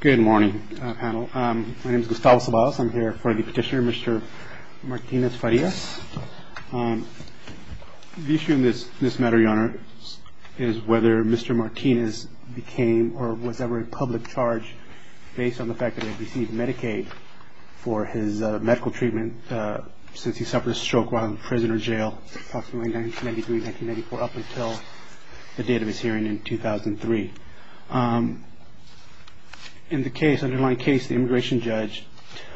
Good morning, panel. My name is Gustavo Ceballos. I'm here for the petitioner, Mr. Martinez-Farias. The issue in this matter, Your Honor, is whether Mr. Martinez became or was ever in public charge based on the fact that he had received Medicaid for his medical treatment since he suffered a stroke while in prison or jail approximately 1993-1994 up until the date of his hearing in 2003. In the underlying case, the immigration judge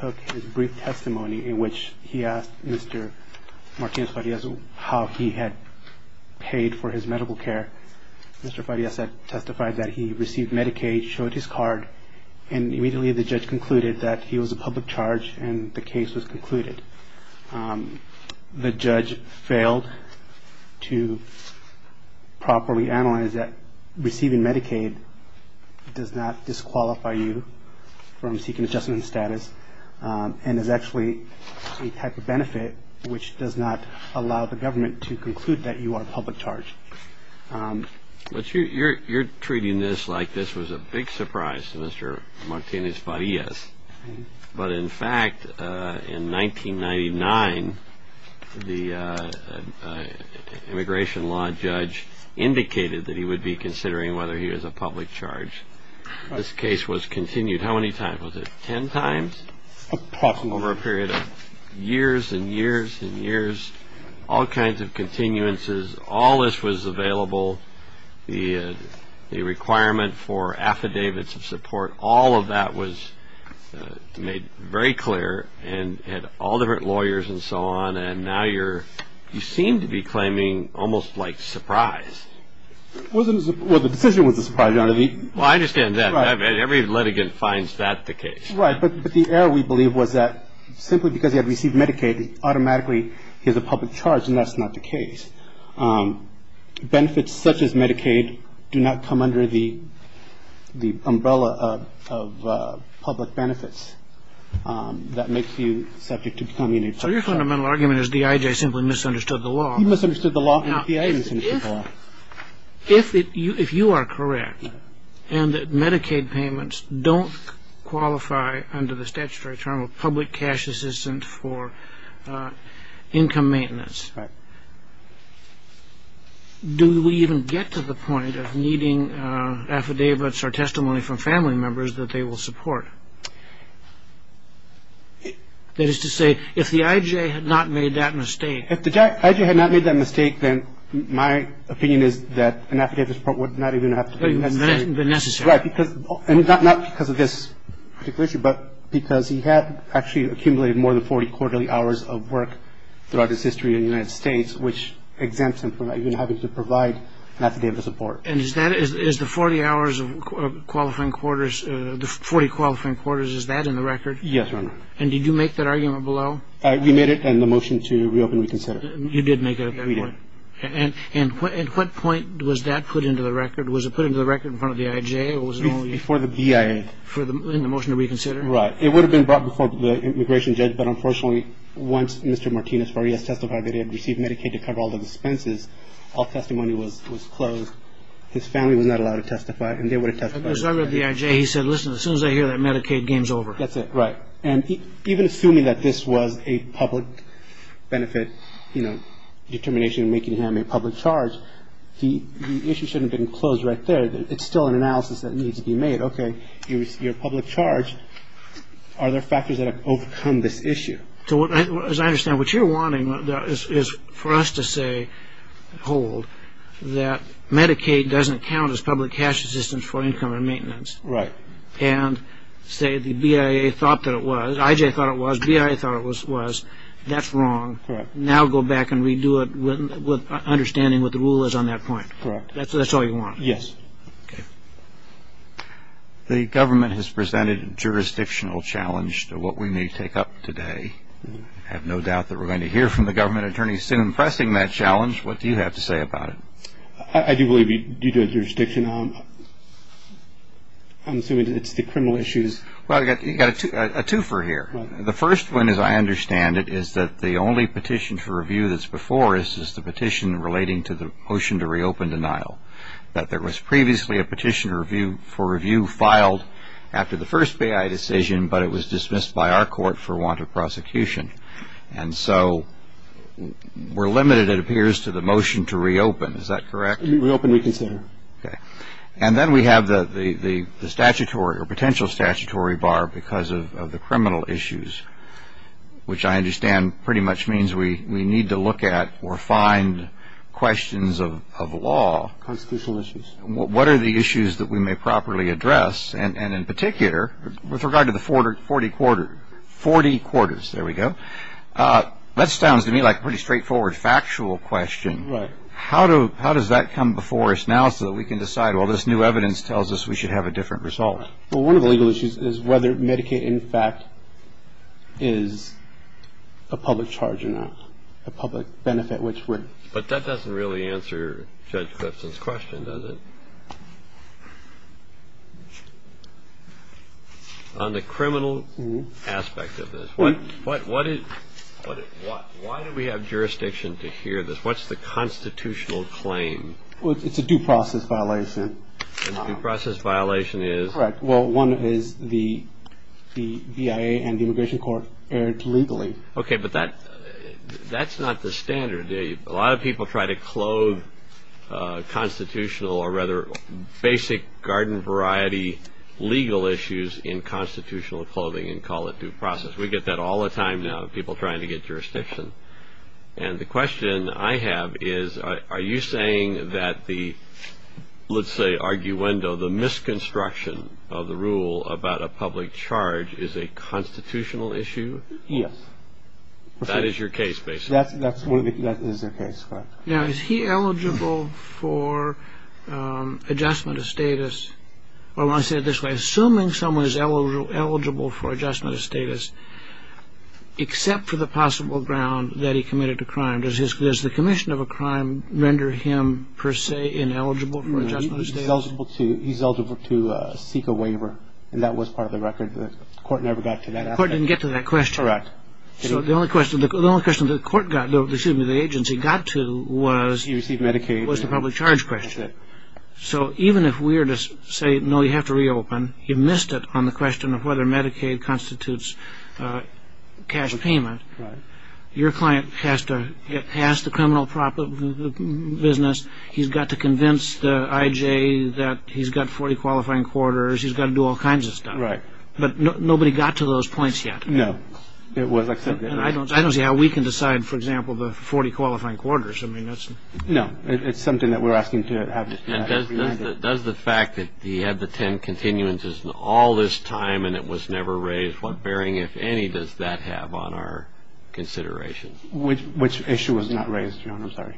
took his brief testimony in which he asked Mr. Martinez-Farias how he had paid for his medical care. Mr. Farias testified that he received Medicaid, showed his card, and immediately the judge concluded that he was a public charge and the case was concluded. The judge failed to properly analyze that receiving Medicaid does not disqualify you from seeking adjustment status and is actually a type of benefit which does not allow the government to conclude that you are a public charge. But you're treating this like this was a big surprise to Mr. Martinez-Farias. But in fact, in 1999, the immigration law judge indicated that he would be considering whether he was a public charge. This case was continued how many times? Was it 10 times? Over a period of years and years and years, all kinds of continuances, all this was available, the requirement for affidavits of support, all of that was made very clear, and had all different lawyers and so on, and now you seem to be claiming almost like surprise. Well, the decision was a surprise, Your Honor. Well, I understand that. Every litigant finds that the case. Right, but the error, we believe, was that simply because he had received Medicaid, automatically he was a public charge, and that's not the case. Benefits such as Medicaid do not come under the umbrella of public benefits. That makes you subject to becoming a public charge. So your fundamental argument is D.I.J. simply misunderstood the law. He misunderstood the law, and D.I.J. misunderstood the law. If you are correct and that Medicaid payments don't qualify under the statutory term of public cash assistance for income maintenance, do we even get to the point of needing affidavits or testimony from family members that they will support? That is to say, if the I.J. had not made that mistake. If the I.J. had not made that mistake, then my opinion is that an affidavit would not even have to be necessary. Right, because not because of this particular issue, but because he had actually accumulated more than 40 quarterly hours of work throughout his history in the United States, which exempts him from even having to provide an affidavit of support. And is the 40 hours of qualifying quarters, the 40 qualifying quarters, is that in the record? Yes, Your Honor. And did you make that argument below? We made it in the motion to reopen and reconsider. You did make it at that point? We did. And at what point was that put into the record? Was it put into the record in front of the I.J.? Before the BIA. In the motion to reconsider? Right. It would have been brought before the immigration judge, but unfortunately once Mr. Martinez-Farias testified that he had received Medicaid to cover all the expenses, all testimony was closed. His family was not allowed to testify, and they were to testify. Because I read the I.J., he said, listen, as soon as I hear that Medicaid, game's over. That's it, right. And even assuming that this was a public benefit determination, making him a public charge, the issue shouldn't have been closed right there. It's still an analysis that needs to be made. Okay, you received your public charge. Are there factors that have overcome this issue? As I understand, what you're wanting is for us to say, hold, that Medicaid doesn't count as public cash assistance for income and maintenance. Right. And say the BIA thought that it was. I.J. thought it was. BIA thought it was. That's wrong. Correct. Now go back and redo it with understanding what the rule is on that point. Correct. That's all you want? Yes. Okay. The government has presented a jurisdictional challenge to what we may take up today. I have no doubt that we're going to hear from the government attorneys soon pressing that challenge. What do you have to say about it? I do believe due to a jurisdiction, I'm assuming it's the criminal issues. Well, you've got a twofer here. The first one, as I understand it, is that the only petition for review that's before us is the petition relating to the motion to reopen denial, that there was previously a petition for review filed after the first BIA decision, but it was dismissed by our court for want of prosecution. And so we're limited, it appears, to the motion to reopen. Is that correct? Reopen reconsider. Okay. And then we have the statutory or potential statutory bar because of the criminal issues, which I understand pretty much means we need to look at or find questions of law. Constitutional issues. What are the issues that we may properly address? And in particular, with regard to the 40 quarters, there we go, that sounds to me like a pretty straightforward factual question. Right. How does that come before us now so that we can decide, well, this new evidence tells us we should have a different result? Well, one of the legal issues is whether Medicaid, in fact, is a public charge or not, a public benefit which we're – But that doesn't really answer Judge Clifton's question, does it? On the criminal aspect of this, what is – why do we have jurisdiction to hear this? What's the constitutional claim? Well, it's a due process violation. A due process violation is? Correct. Well, one is the BIA and the Immigration Court erred legally. Okay, but that's not the standard, is it? A lot of people try to clothe constitutional or rather basic garden variety legal issues in constitutional clothing and call it due process. We get that all the time now, people trying to get jurisdiction. And the question I have is are you saying that the, let's say, arguendo, the misconstruction of the rule about a public charge is a constitutional issue? Yes. That is your case, basically? That is the case, correct. Now, is he eligible for adjustment of status? I want to say it this way. Assuming someone is eligible for adjustment of status, except for the possible ground that he committed a crime, does the commission of a crime render him per se ineligible for adjustment of status? He's eligible to seek a waiver, and that was part of the record. The court never got to that aspect. The court didn't get to that question? Correct. So the only question the court got, excuse me, the agency got to was? He received Medicaid. Was the public charge question. So even if we were to say, no, you have to reopen, you missed it on the question of whether Medicaid constitutes cash payment. Your client has to get past the criminal business. He's got to convince the IJ that he's got 40 qualifying quarters. He's got to do all kinds of stuff. But nobody got to those points yet. No. I don't see how we can decide, for example, the 40 qualifying quarters. I mean, that's. No. It's something that we're asking to have. And does the fact that he had the 10 continuances all this time and it was never raised, what bearing, if any, does that have on our consideration? Which issue was not raised, Your Honor? I'm sorry.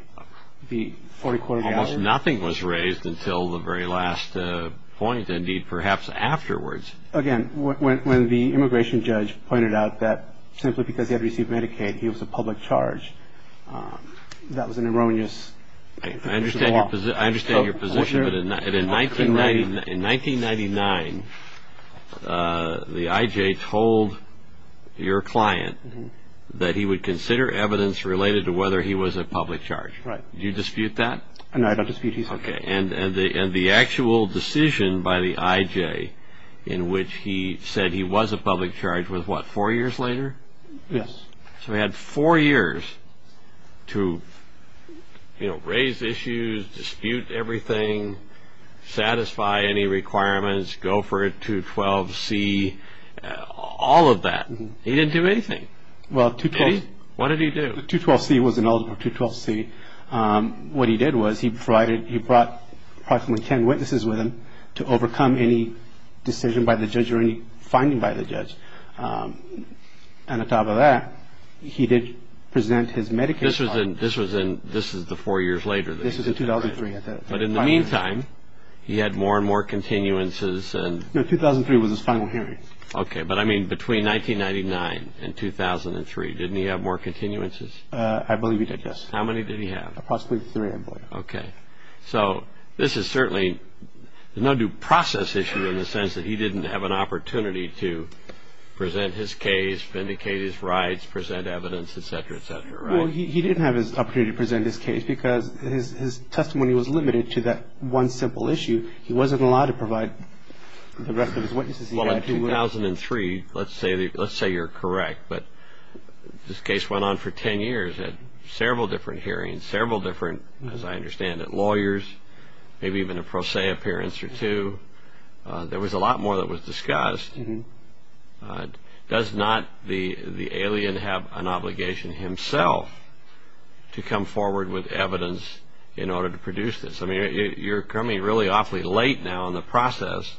The 40 qualifying quarters. Almost nothing was raised until the very last point, indeed, perhaps afterwards. Again, when the immigration judge pointed out that simply because he had received Medicaid, he was a public charge, that was an erroneous position to offer. I understand your position, but in 1999, the IJ told your client that he would consider evidence related to whether he was a public charge. Right. Do you dispute that? No, I don't dispute his claim. Okay. And the actual decision by the IJ in which he said he was a public charge was what, four years later? Yes. So he had four years to, you know, raise issues, dispute everything, satisfy any requirements, go for a 212C, all of that. He didn't do anything. Well, 212. What did he do? The 212C was an eligible 212C. What he did was he brought approximately 10 witnesses with him to overcome any decision by the judge or any finding by the judge. And on top of that, he did present his Medicaid card. This was in the four years later? This was in 2003. But in the meantime, he had more and more continuances. No, 2003 was his final hearing. Okay. But, I mean, between 1999 and 2003, didn't he have more continuances? I believe he did, yes. How many did he have? Approximately three, I believe. Okay. So this is certainly no due process issue in the sense that he didn't have an opportunity to present his case, vindicate his rights, present evidence, et cetera, et cetera, right? Well, he didn't have his opportunity to present his case because his testimony was limited to that one simple issue. He wasn't allowed to provide the rest of his witnesses. Well, in 2003, let's say you're correct, but this case went on for 10 years, had several different hearings, several different, as I understand it, lawyers, maybe even a pro se appearance or two. There was a lot more that was discussed. Does not the alien have an obligation himself to come forward with evidence in order to produce this? I mean, you're coming really awfully late now in the process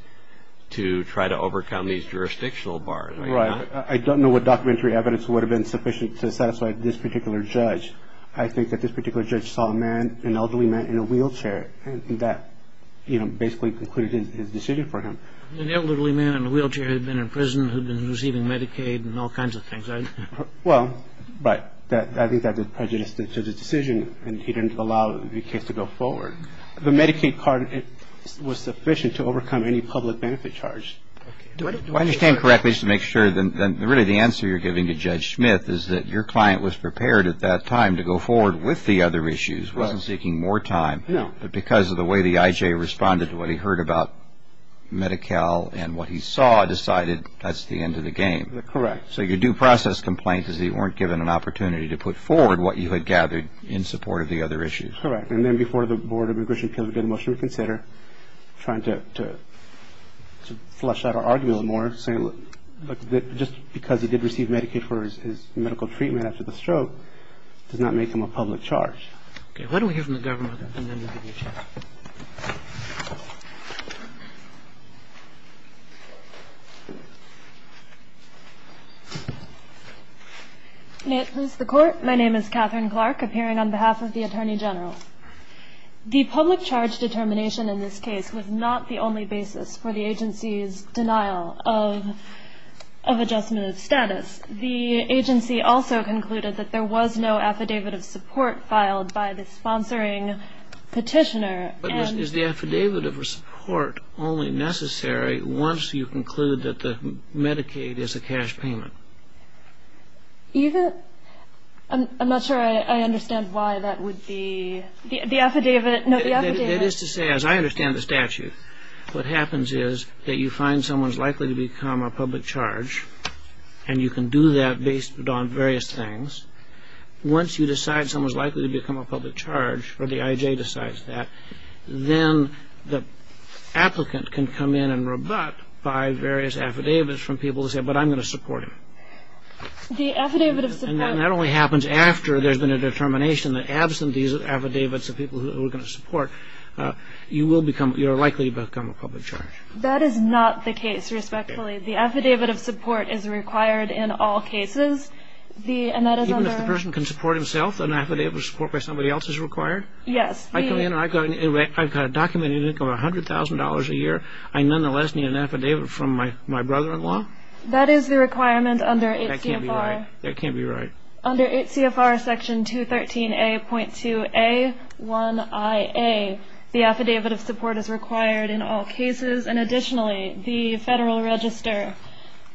to try to overcome these jurisdictional bars. Right. I don't know what documentary evidence would have been sufficient to satisfy this particular judge. I think that this particular judge saw a man, an elderly man in a wheelchair and that, you know, basically concluded his decision for him. An elderly man in a wheelchair had been in prison, had been receiving Medicaid and all kinds of things. Well, but I think that was prejudiced to the decision and he didn't allow the case to go forward. The Medicaid card was sufficient to overcome any public benefit charge. Do I understand correctly to make sure that really the answer you're giving to Judge Smith is that your client was prepared at that time to go forward with the other issues, wasn't seeking more time. No. But because of the way the IJ responded to what he heard about Medi-Cal and what he saw, decided that's the end of the game. Correct. So your due process complaint is that you weren't given an opportunity to put forward what you had gathered in support of the other issues. Correct. And then before the Board of Immigration Appeals, we did a motion to consider trying to flush out our argument a little more, saying look, just because he did receive Medicaid for his medical treatment after the stroke does not make him a public charge. Okay. Why don't we hear from the government and then we'll give you a chance. May it please the Court. My name is Catherine Clark, appearing on behalf of the Attorney General. The public charge determination in this case was not the only basis for the agency's denial of adjustment of status. The agency also concluded that there was no affidavit of support filed by the sponsoring petitioner. But is the affidavit of support only necessary once you conclude that the Medicaid is a cash payment? I'm not sure I understand why that would be the affidavit. It is to say, as I understand the statute, what happens is that you find someone's likely to become a public charge and you can do that based on various things. Once you decide someone's likely to become a public charge, or the IJ decides that, then the applicant can come in and rebut by various affidavits from people who say, but I'm going to support him. The affidavit of support. And that only happens after there's been a determination that absent these affidavits of people who are going to support, you will become, you're likely to become a public charge. That is not the case, respectfully. The affidavit of support is required in all cases. Even if the person can support himself, an affidavit of support by somebody else is required? Yes. I've got a documented income of $100,000 a year. I nonetheless need an affidavit from my brother-in-law? That is the requirement under 8 CFR. That can't be right. That can't be right. Under 8 CFR section 213A.2A1IA, the affidavit of support is required in all cases. And additionally, the Federal Register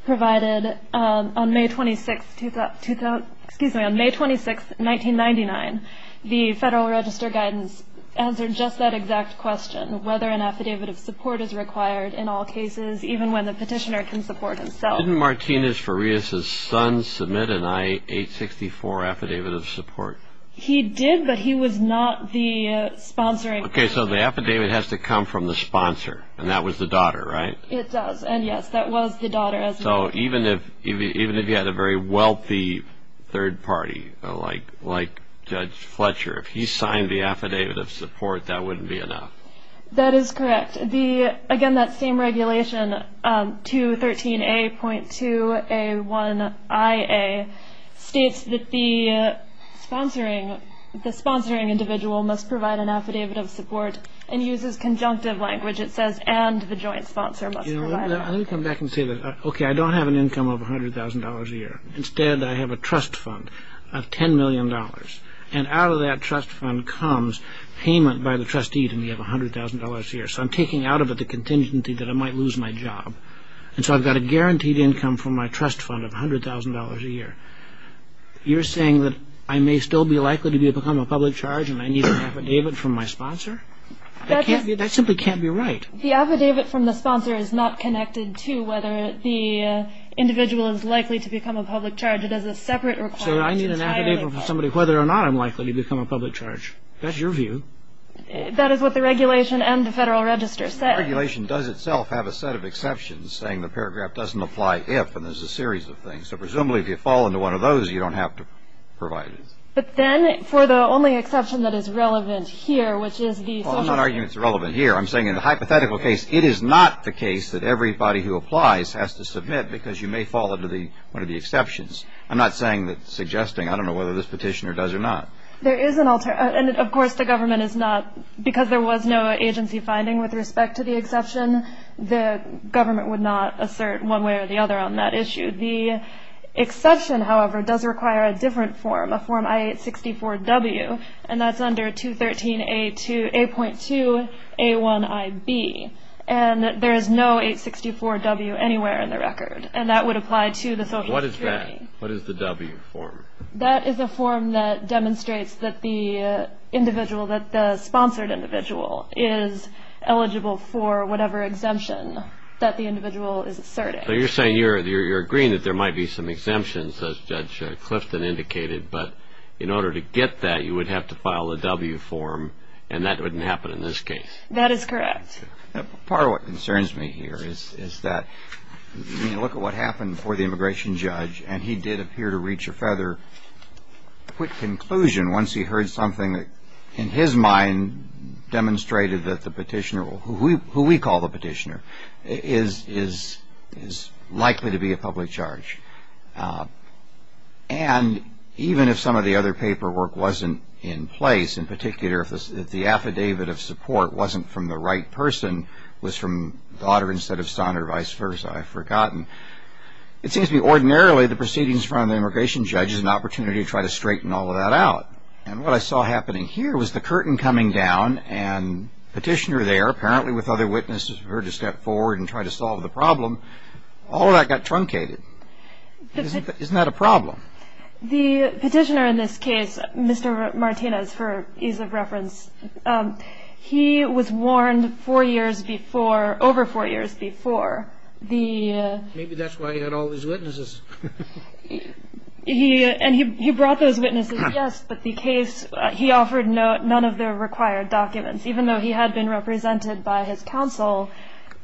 provided on May 26, 1999, the Federal Register guidance answered just that exact question, whether an affidavit of support is required in all cases, even when the petitioner can support himself. Didn't Martinez-Farias's son submit an I-864 affidavit of support? He did, but he was not the sponsoring person. Okay, so the affidavit has to come from the sponsor, and that was the daughter, right? It does, and yes, that was the daughter. So even if you had a very wealthy third party, like Judge Fletcher, if he signed the affidavit of support, that wouldn't be enough? That is correct. And, again, that same regulation, 213A.2A1IA, states that the sponsoring individual must provide an affidavit of support and uses conjunctive language. It says, and the joint sponsor must provide it. Let me come back and say this. Okay, I don't have an income of $100,000 a year. Instead, I have a trust fund of $10 million, and out of that trust fund comes payment by the trustee to me of $100,000 a year. So I'm taking out of it the contingency that I might lose my job. And so I've got a guaranteed income from my trust fund of $100,000 a year. You're saying that I may still be likely to become a public charge and I need an affidavit from my sponsor? That simply can't be right. The affidavit from the sponsor is not connected to whether the individual is likely to become a public charge. It has a separate requirement. So I need an affidavit from somebody whether or not I'm likely to become a public charge. That's your view. That is what the regulation and the Federal Register say. The regulation does itself have a set of exceptions saying the paragraph doesn't apply if, and there's a series of things. So presumably, if you fall into one of those, you don't have to provide it. But then, for the only exception that is relevant here, which is the social – Well, I'm not arguing it's relevant here. I'm saying in the hypothetical case, it is not the case that everybody who applies has to submit because you may fall into one of the exceptions. I'm not saying that – suggesting. I don't know whether this petitioner does or not. There is an – and, of course, the government is not – because there was no agency finding with respect to the exception, the government would not assert one way or the other on that issue. The exception, however, does require a different form, a form I-864-W, and that's under 213-A2 – 8.2-A1-IB. And there is no 864-W anywhere in the record. And that would apply to the social security. What is that? What is the W form? That is a form that demonstrates that the individual – that the sponsored individual is eligible for whatever exemption that the individual is asserting. So you're saying you're agreeing that there might be some exemptions, as Judge Clifton indicated, but in order to get that, you would have to file the W form, and that wouldn't happen in this case. That is correct. Part of what concerns me here is that, you know, look at what happened before the immigration judge, and he did appear to reach a further quick conclusion once he heard something that, in his mind, demonstrated that the petitioner – who we call the petitioner – is likely to be a public charge. And even if some of the other paperwork wasn't in place, in particular if the affidavit of support wasn't from the right person, was from Goddard instead of Sondra or vice versa, I've forgotten. It seems to me ordinarily the proceedings in front of the immigration judge is an opportunity to try to straighten all of that out. And what I saw happening here was the curtain coming down, and the petitioner there, apparently with other witnesses, referred to step forward and try to solve the problem. All of that got truncated. Isn't that a problem? The petitioner in this case, Mr. Martinez, for ease of reference, he was warned four years before – over four years before the – Maybe that's why he had all these witnesses. He – and he brought those witnesses, yes, but the case – he offered none of the required documents, even though he had been represented by his counsel,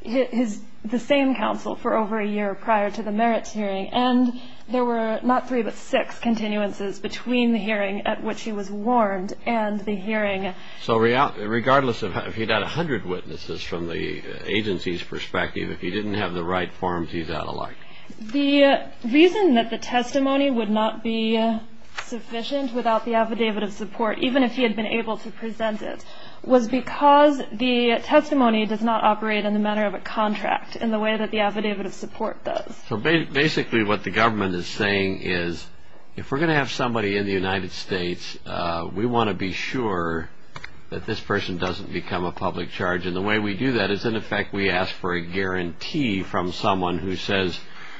his – the same counsel for over a year prior to the merits hearing. And there were not three but six continuances between the hearing at which he was warned and the hearing. So regardless of – if he'd had 100 witnesses from the agency's perspective, if he didn't have the right forms, he's out of luck. The reason that the testimony would not be sufficient without the affidavit of support, even if he had been able to present it, was because the testimony does not operate in the manner of a contract, in the way that the affidavit of support does. So basically what the government is saying is if we're going to have somebody in the United States, we want to be sure that this person doesn't become a public charge. And the way we do that is, in effect, we ask for a guarantee from someone who says,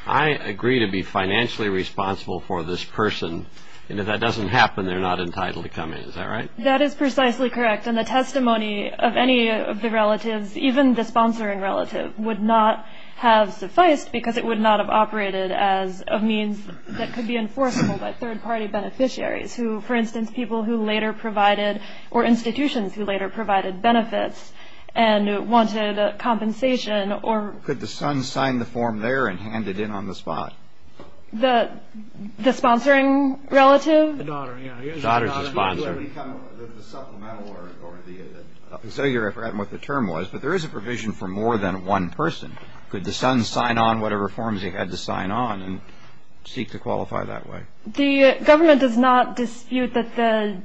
I agree to be financially responsible for this person, and if that doesn't happen, they're not entitled to come in. Is that right? That is precisely correct. And the testimony of any of the relatives, even the sponsoring relative, would not have sufficed because it would not have operated as a means that could be enforceable by third-party beneficiaries, who, for instance, people who later provided – or institutions who later provided benefits and wanted compensation or – Could the son sign the form there and hand it in on the spot? The sponsoring relative? The daughter, yeah. The daughter's the sponsor. The supplemental or the – I forget what the term was, but there is a provision for more than one person. Could the son sign on whatever forms he had to sign on and seek to qualify that way? The government does not dispute that the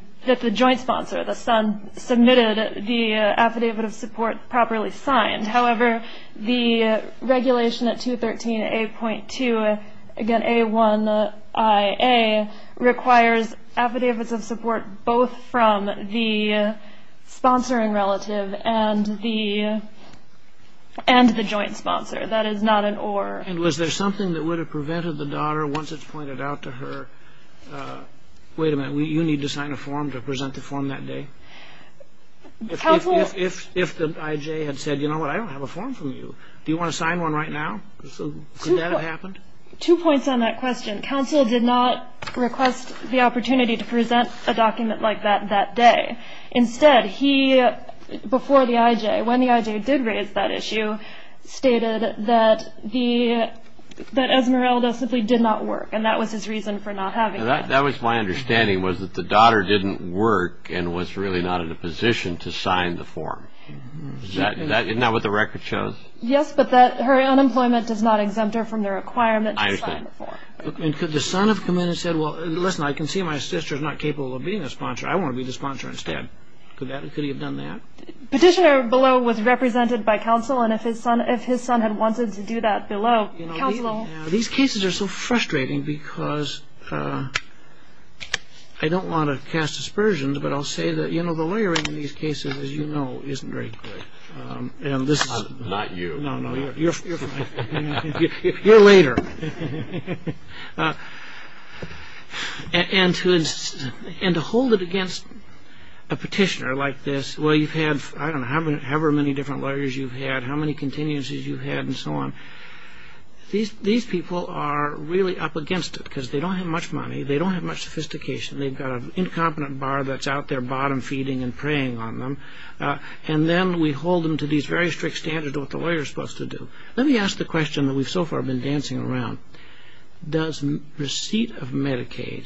joint sponsor, the son, submitted the affidavit of support properly signed. However, the regulation at 213A.2, again, A1IA, requires affidavits of support both from the sponsoring relative and the joint sponsor. That is not an or. And was there something that would have prevented the daughter, once it's pointed out to her, wait a minute, you need to sign a form to present the form that day? Counsel – If the I.J. had said, you know what, I don't have a form from you. Do you want to sign one right now? Could that have happened? Two points on that question. Counsel did not request the opportunity to present a document like that that day. Instead, he – before the I.J., when the I.J. did raise that issue, stated that Esmeralda simply did not work, and that was his reason for not having it. That was my understanding, was that the daughter didn't work and was really not in a position to sign the form. Isn't that what the record shows? Yes, but her unemployment does not exempt her from the requirement to sign the form. And could the son have come in and said, well, listen, I can see my sister's not capable of being a sponsor. I want to be the sponsor instead. Could he have done that? Petitioner below was represented by counsel, and if his son had wanted to do that below, counsel – Now, these cases are so frustrating because I don't want to cast aspersions, but I'll say that, you know, the lawyering in these cases, as you know, isn't very good. Not you. No, no, you're fine. You're later. And to hold it against a petitioner like this, well, you've had, I don't know, however many different lawyers you've had, how many continuances you've had, and so on. These people are really up against it because they don't have much money. They don't have much sophistication. They've got an incompetent bar that's out there bottom feeding and preying on them. And then we hold them to these very strict standards of what the lawyer is supposed to do. Let me ask the question that we've so far been dancing around. Does receipt of Medicaid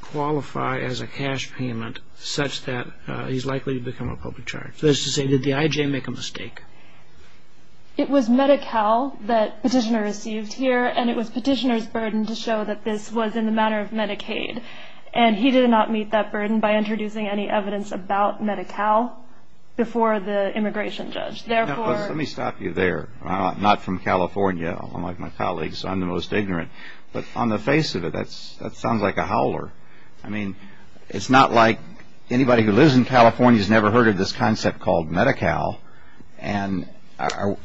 qualify as a cash payment such that he's likely to become a public charge? That is to say, did the I.J. make a mistake? It was Medi-Cal that petitioner received here, and it was petitioner's burden to show that this was in the matter of Medicaid. And he did not meet that burden by introducing any evidence about Medi-Cal before the immigration judge. Let me stop you there. I'm not from California. Unlike my colleagues, I'm the most ignorant. But on the face of it, that sounds like a howler. I mean, it's not like anybody who lives in California has never heard of this concept called Medi-Cal. And I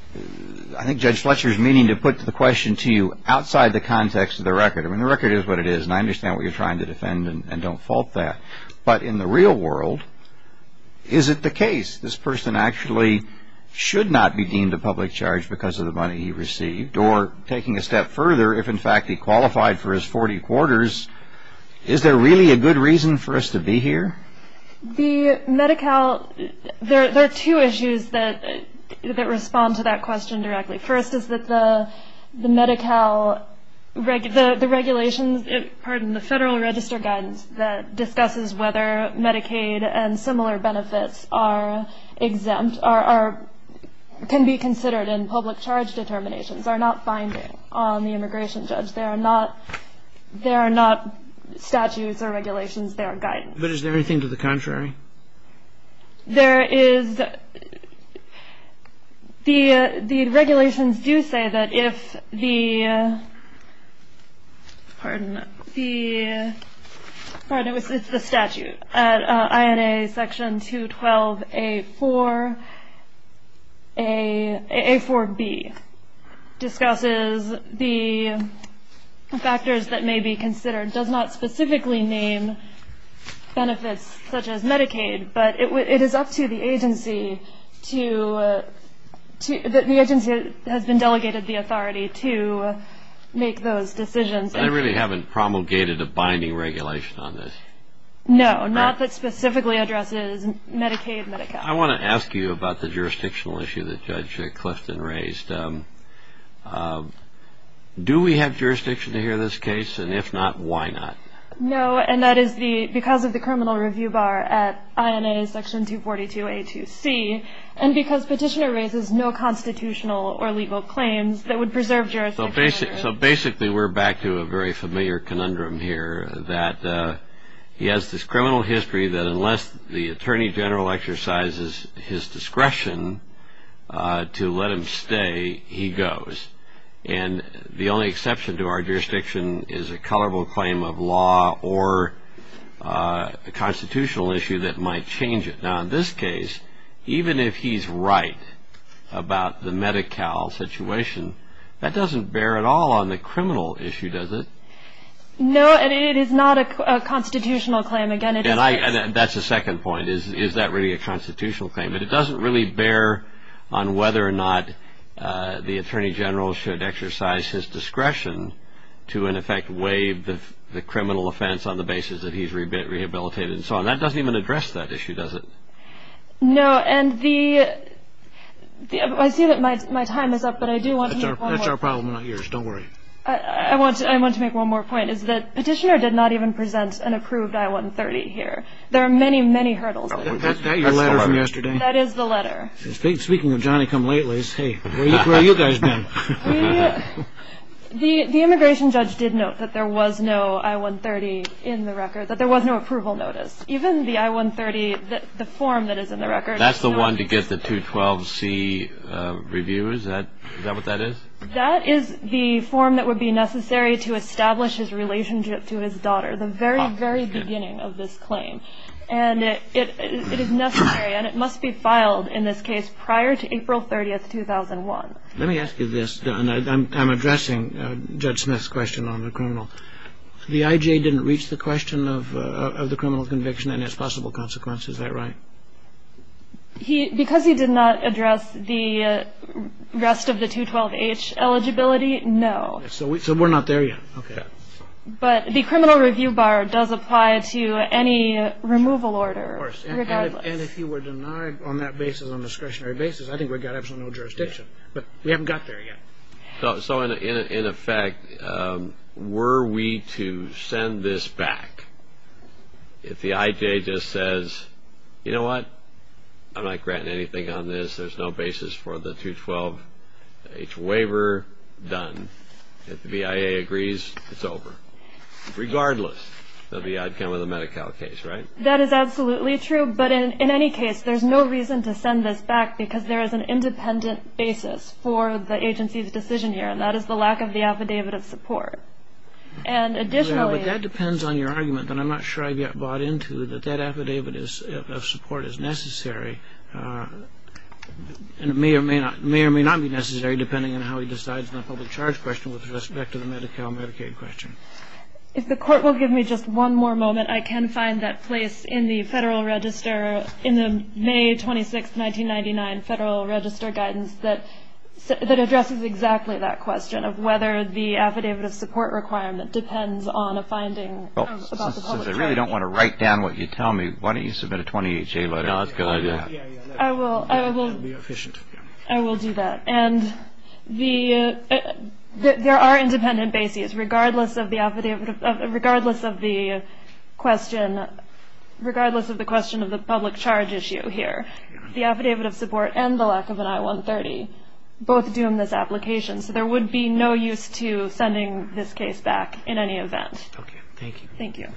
think Judge Fletcher is meaning to put the question to you outside the context of the record. I mean, the record is what it is, and I understand what you're trying to defend, and don't fault that. But in the real world, is it the case this person actually should not be deemed a public charge because of the money he received? Or, taking a step further, if in fact he qualified for his 40 quarters, is there really a good reason for us to be here? The Medi-Cal, there are two issues that respond to that question directly. First is that the Medi-Cal regulations, pardon me, the Federal Register guidance that discusses whether Medicaid and similar benefits are exempt, can be considered in public charge determinations, are not binding on the immigration judge. They are not statutes or regulations. They are guidance. But is there anything to the contrary? There is. The regulations do say that if the, pardon, the, pardon, it's the statute. INA section 212A4B discusses the factors that may be considered, does not specifically name benefits such as Medicaid, but it is up to the agency to, the agency has been delegated the authority to make those decisions. I really haven't promulgated a binding regulation on this. No, not that specifically addresses Medicaid, Medi-Cal. I want to ask you about the jurisdictional issue that Judge Clifton raised. Do we have jurisdiction to hear this case? And if not, why not? No, and that is because of the criminal review bar at INA section 242A2C, and because petitioner raises no constitutional or legal claims that would preserve jurisdiction. So basically we're back to a very familiar conundrum here, that he has this criminal history that unless the attorney general exercises his discretion to let him stay, he goes. And the only exception to our jurisdiction is a colorable claim of law or a constitutional issue that might change it. Now in this case, even if he's right about the Medi-Cal situation, that doesn't bear at all on the criminal issue, does it? No, and it is not a constitutional claim. And that's the second point, is that really a constitutional claim? But it doesn't really bear on whether or not the attorney general should exercise his discretion to in effect waive the criminal offense on the basis that he's rehabilitated. And that doesn't even address that issue, does it? No, and I see that my time is up, but I do want to make one more point. That's our problem, not yours. Don't worry. I want to make one more point, is that petitioner did not even present an approved I-130 here. There are many, many hurdles. Is that your letter from yesterday? That is the letter. Speaking of Johnny-come-lately's, hey, where have you guys been? The immigration judge did note that there was no I-130 in the record, that there was no approval notice. Even the I-130, the form that is in the record. That's the one to get the 212C review, is that what that is? That is the form that would be necessary to establish his relationship to his daughter, the very, very beginning of this claim. And it is necessary, and it must be filed in this case prior to April 30th, 2001. Let me ask you this, and I'm addressing Judge Smith's question on the criminal. The IJ didn't reach the question of the criminal conviction and its possible consequences, is that right? Because he did not address the rest of the 212H eligibility, no. So we're not there yet, okay. But the criminal review bar does apply to any removal order, regardless. And if you were denied on that basis, on a discretionary basis, I think we've got absolutely no jurisdiction. But we haven't got there yet. So in effect, were we to send this back, if the IJ just says, you know what, I'm not granting anything on this, there's no basis for the 212H waiver, done. If the BIA agrees, it's over. Regardless of the outcome of the Medi-Cal case, right? That is absolutely true. But in any case, there's no reason to send this back, because there is an independent basis for the agency's decision here, and that is the lack of the affidavit of support. And additionally... Yeah, but that depends on your argument, but I'm not sure I've yet bought into that that affidavit of support is necessary. And it may or may not be necessary, depending on how he decides on the public charge question with respect to the Medi-Cal Medicaid question. If the Court will give me just one more moment, I can find that place in the Federal Register, in the May 26, 1999 Federal Register guidance, that addresses exactly that question, of whether the affidavit of support requirement depends on a finding about the public charge. Since I really don't want to write down what you tell me, why don't you submit a 28-J letter? No, that's a good idea. I will. That would be efficient. I will do that. And there are independent bases, regardless of the question of the public charge issue here. The affidavit of support and the lack of an I-130 both doom this application, so there would be no use to sending this case back in any event. Okay, thank you. Thank you.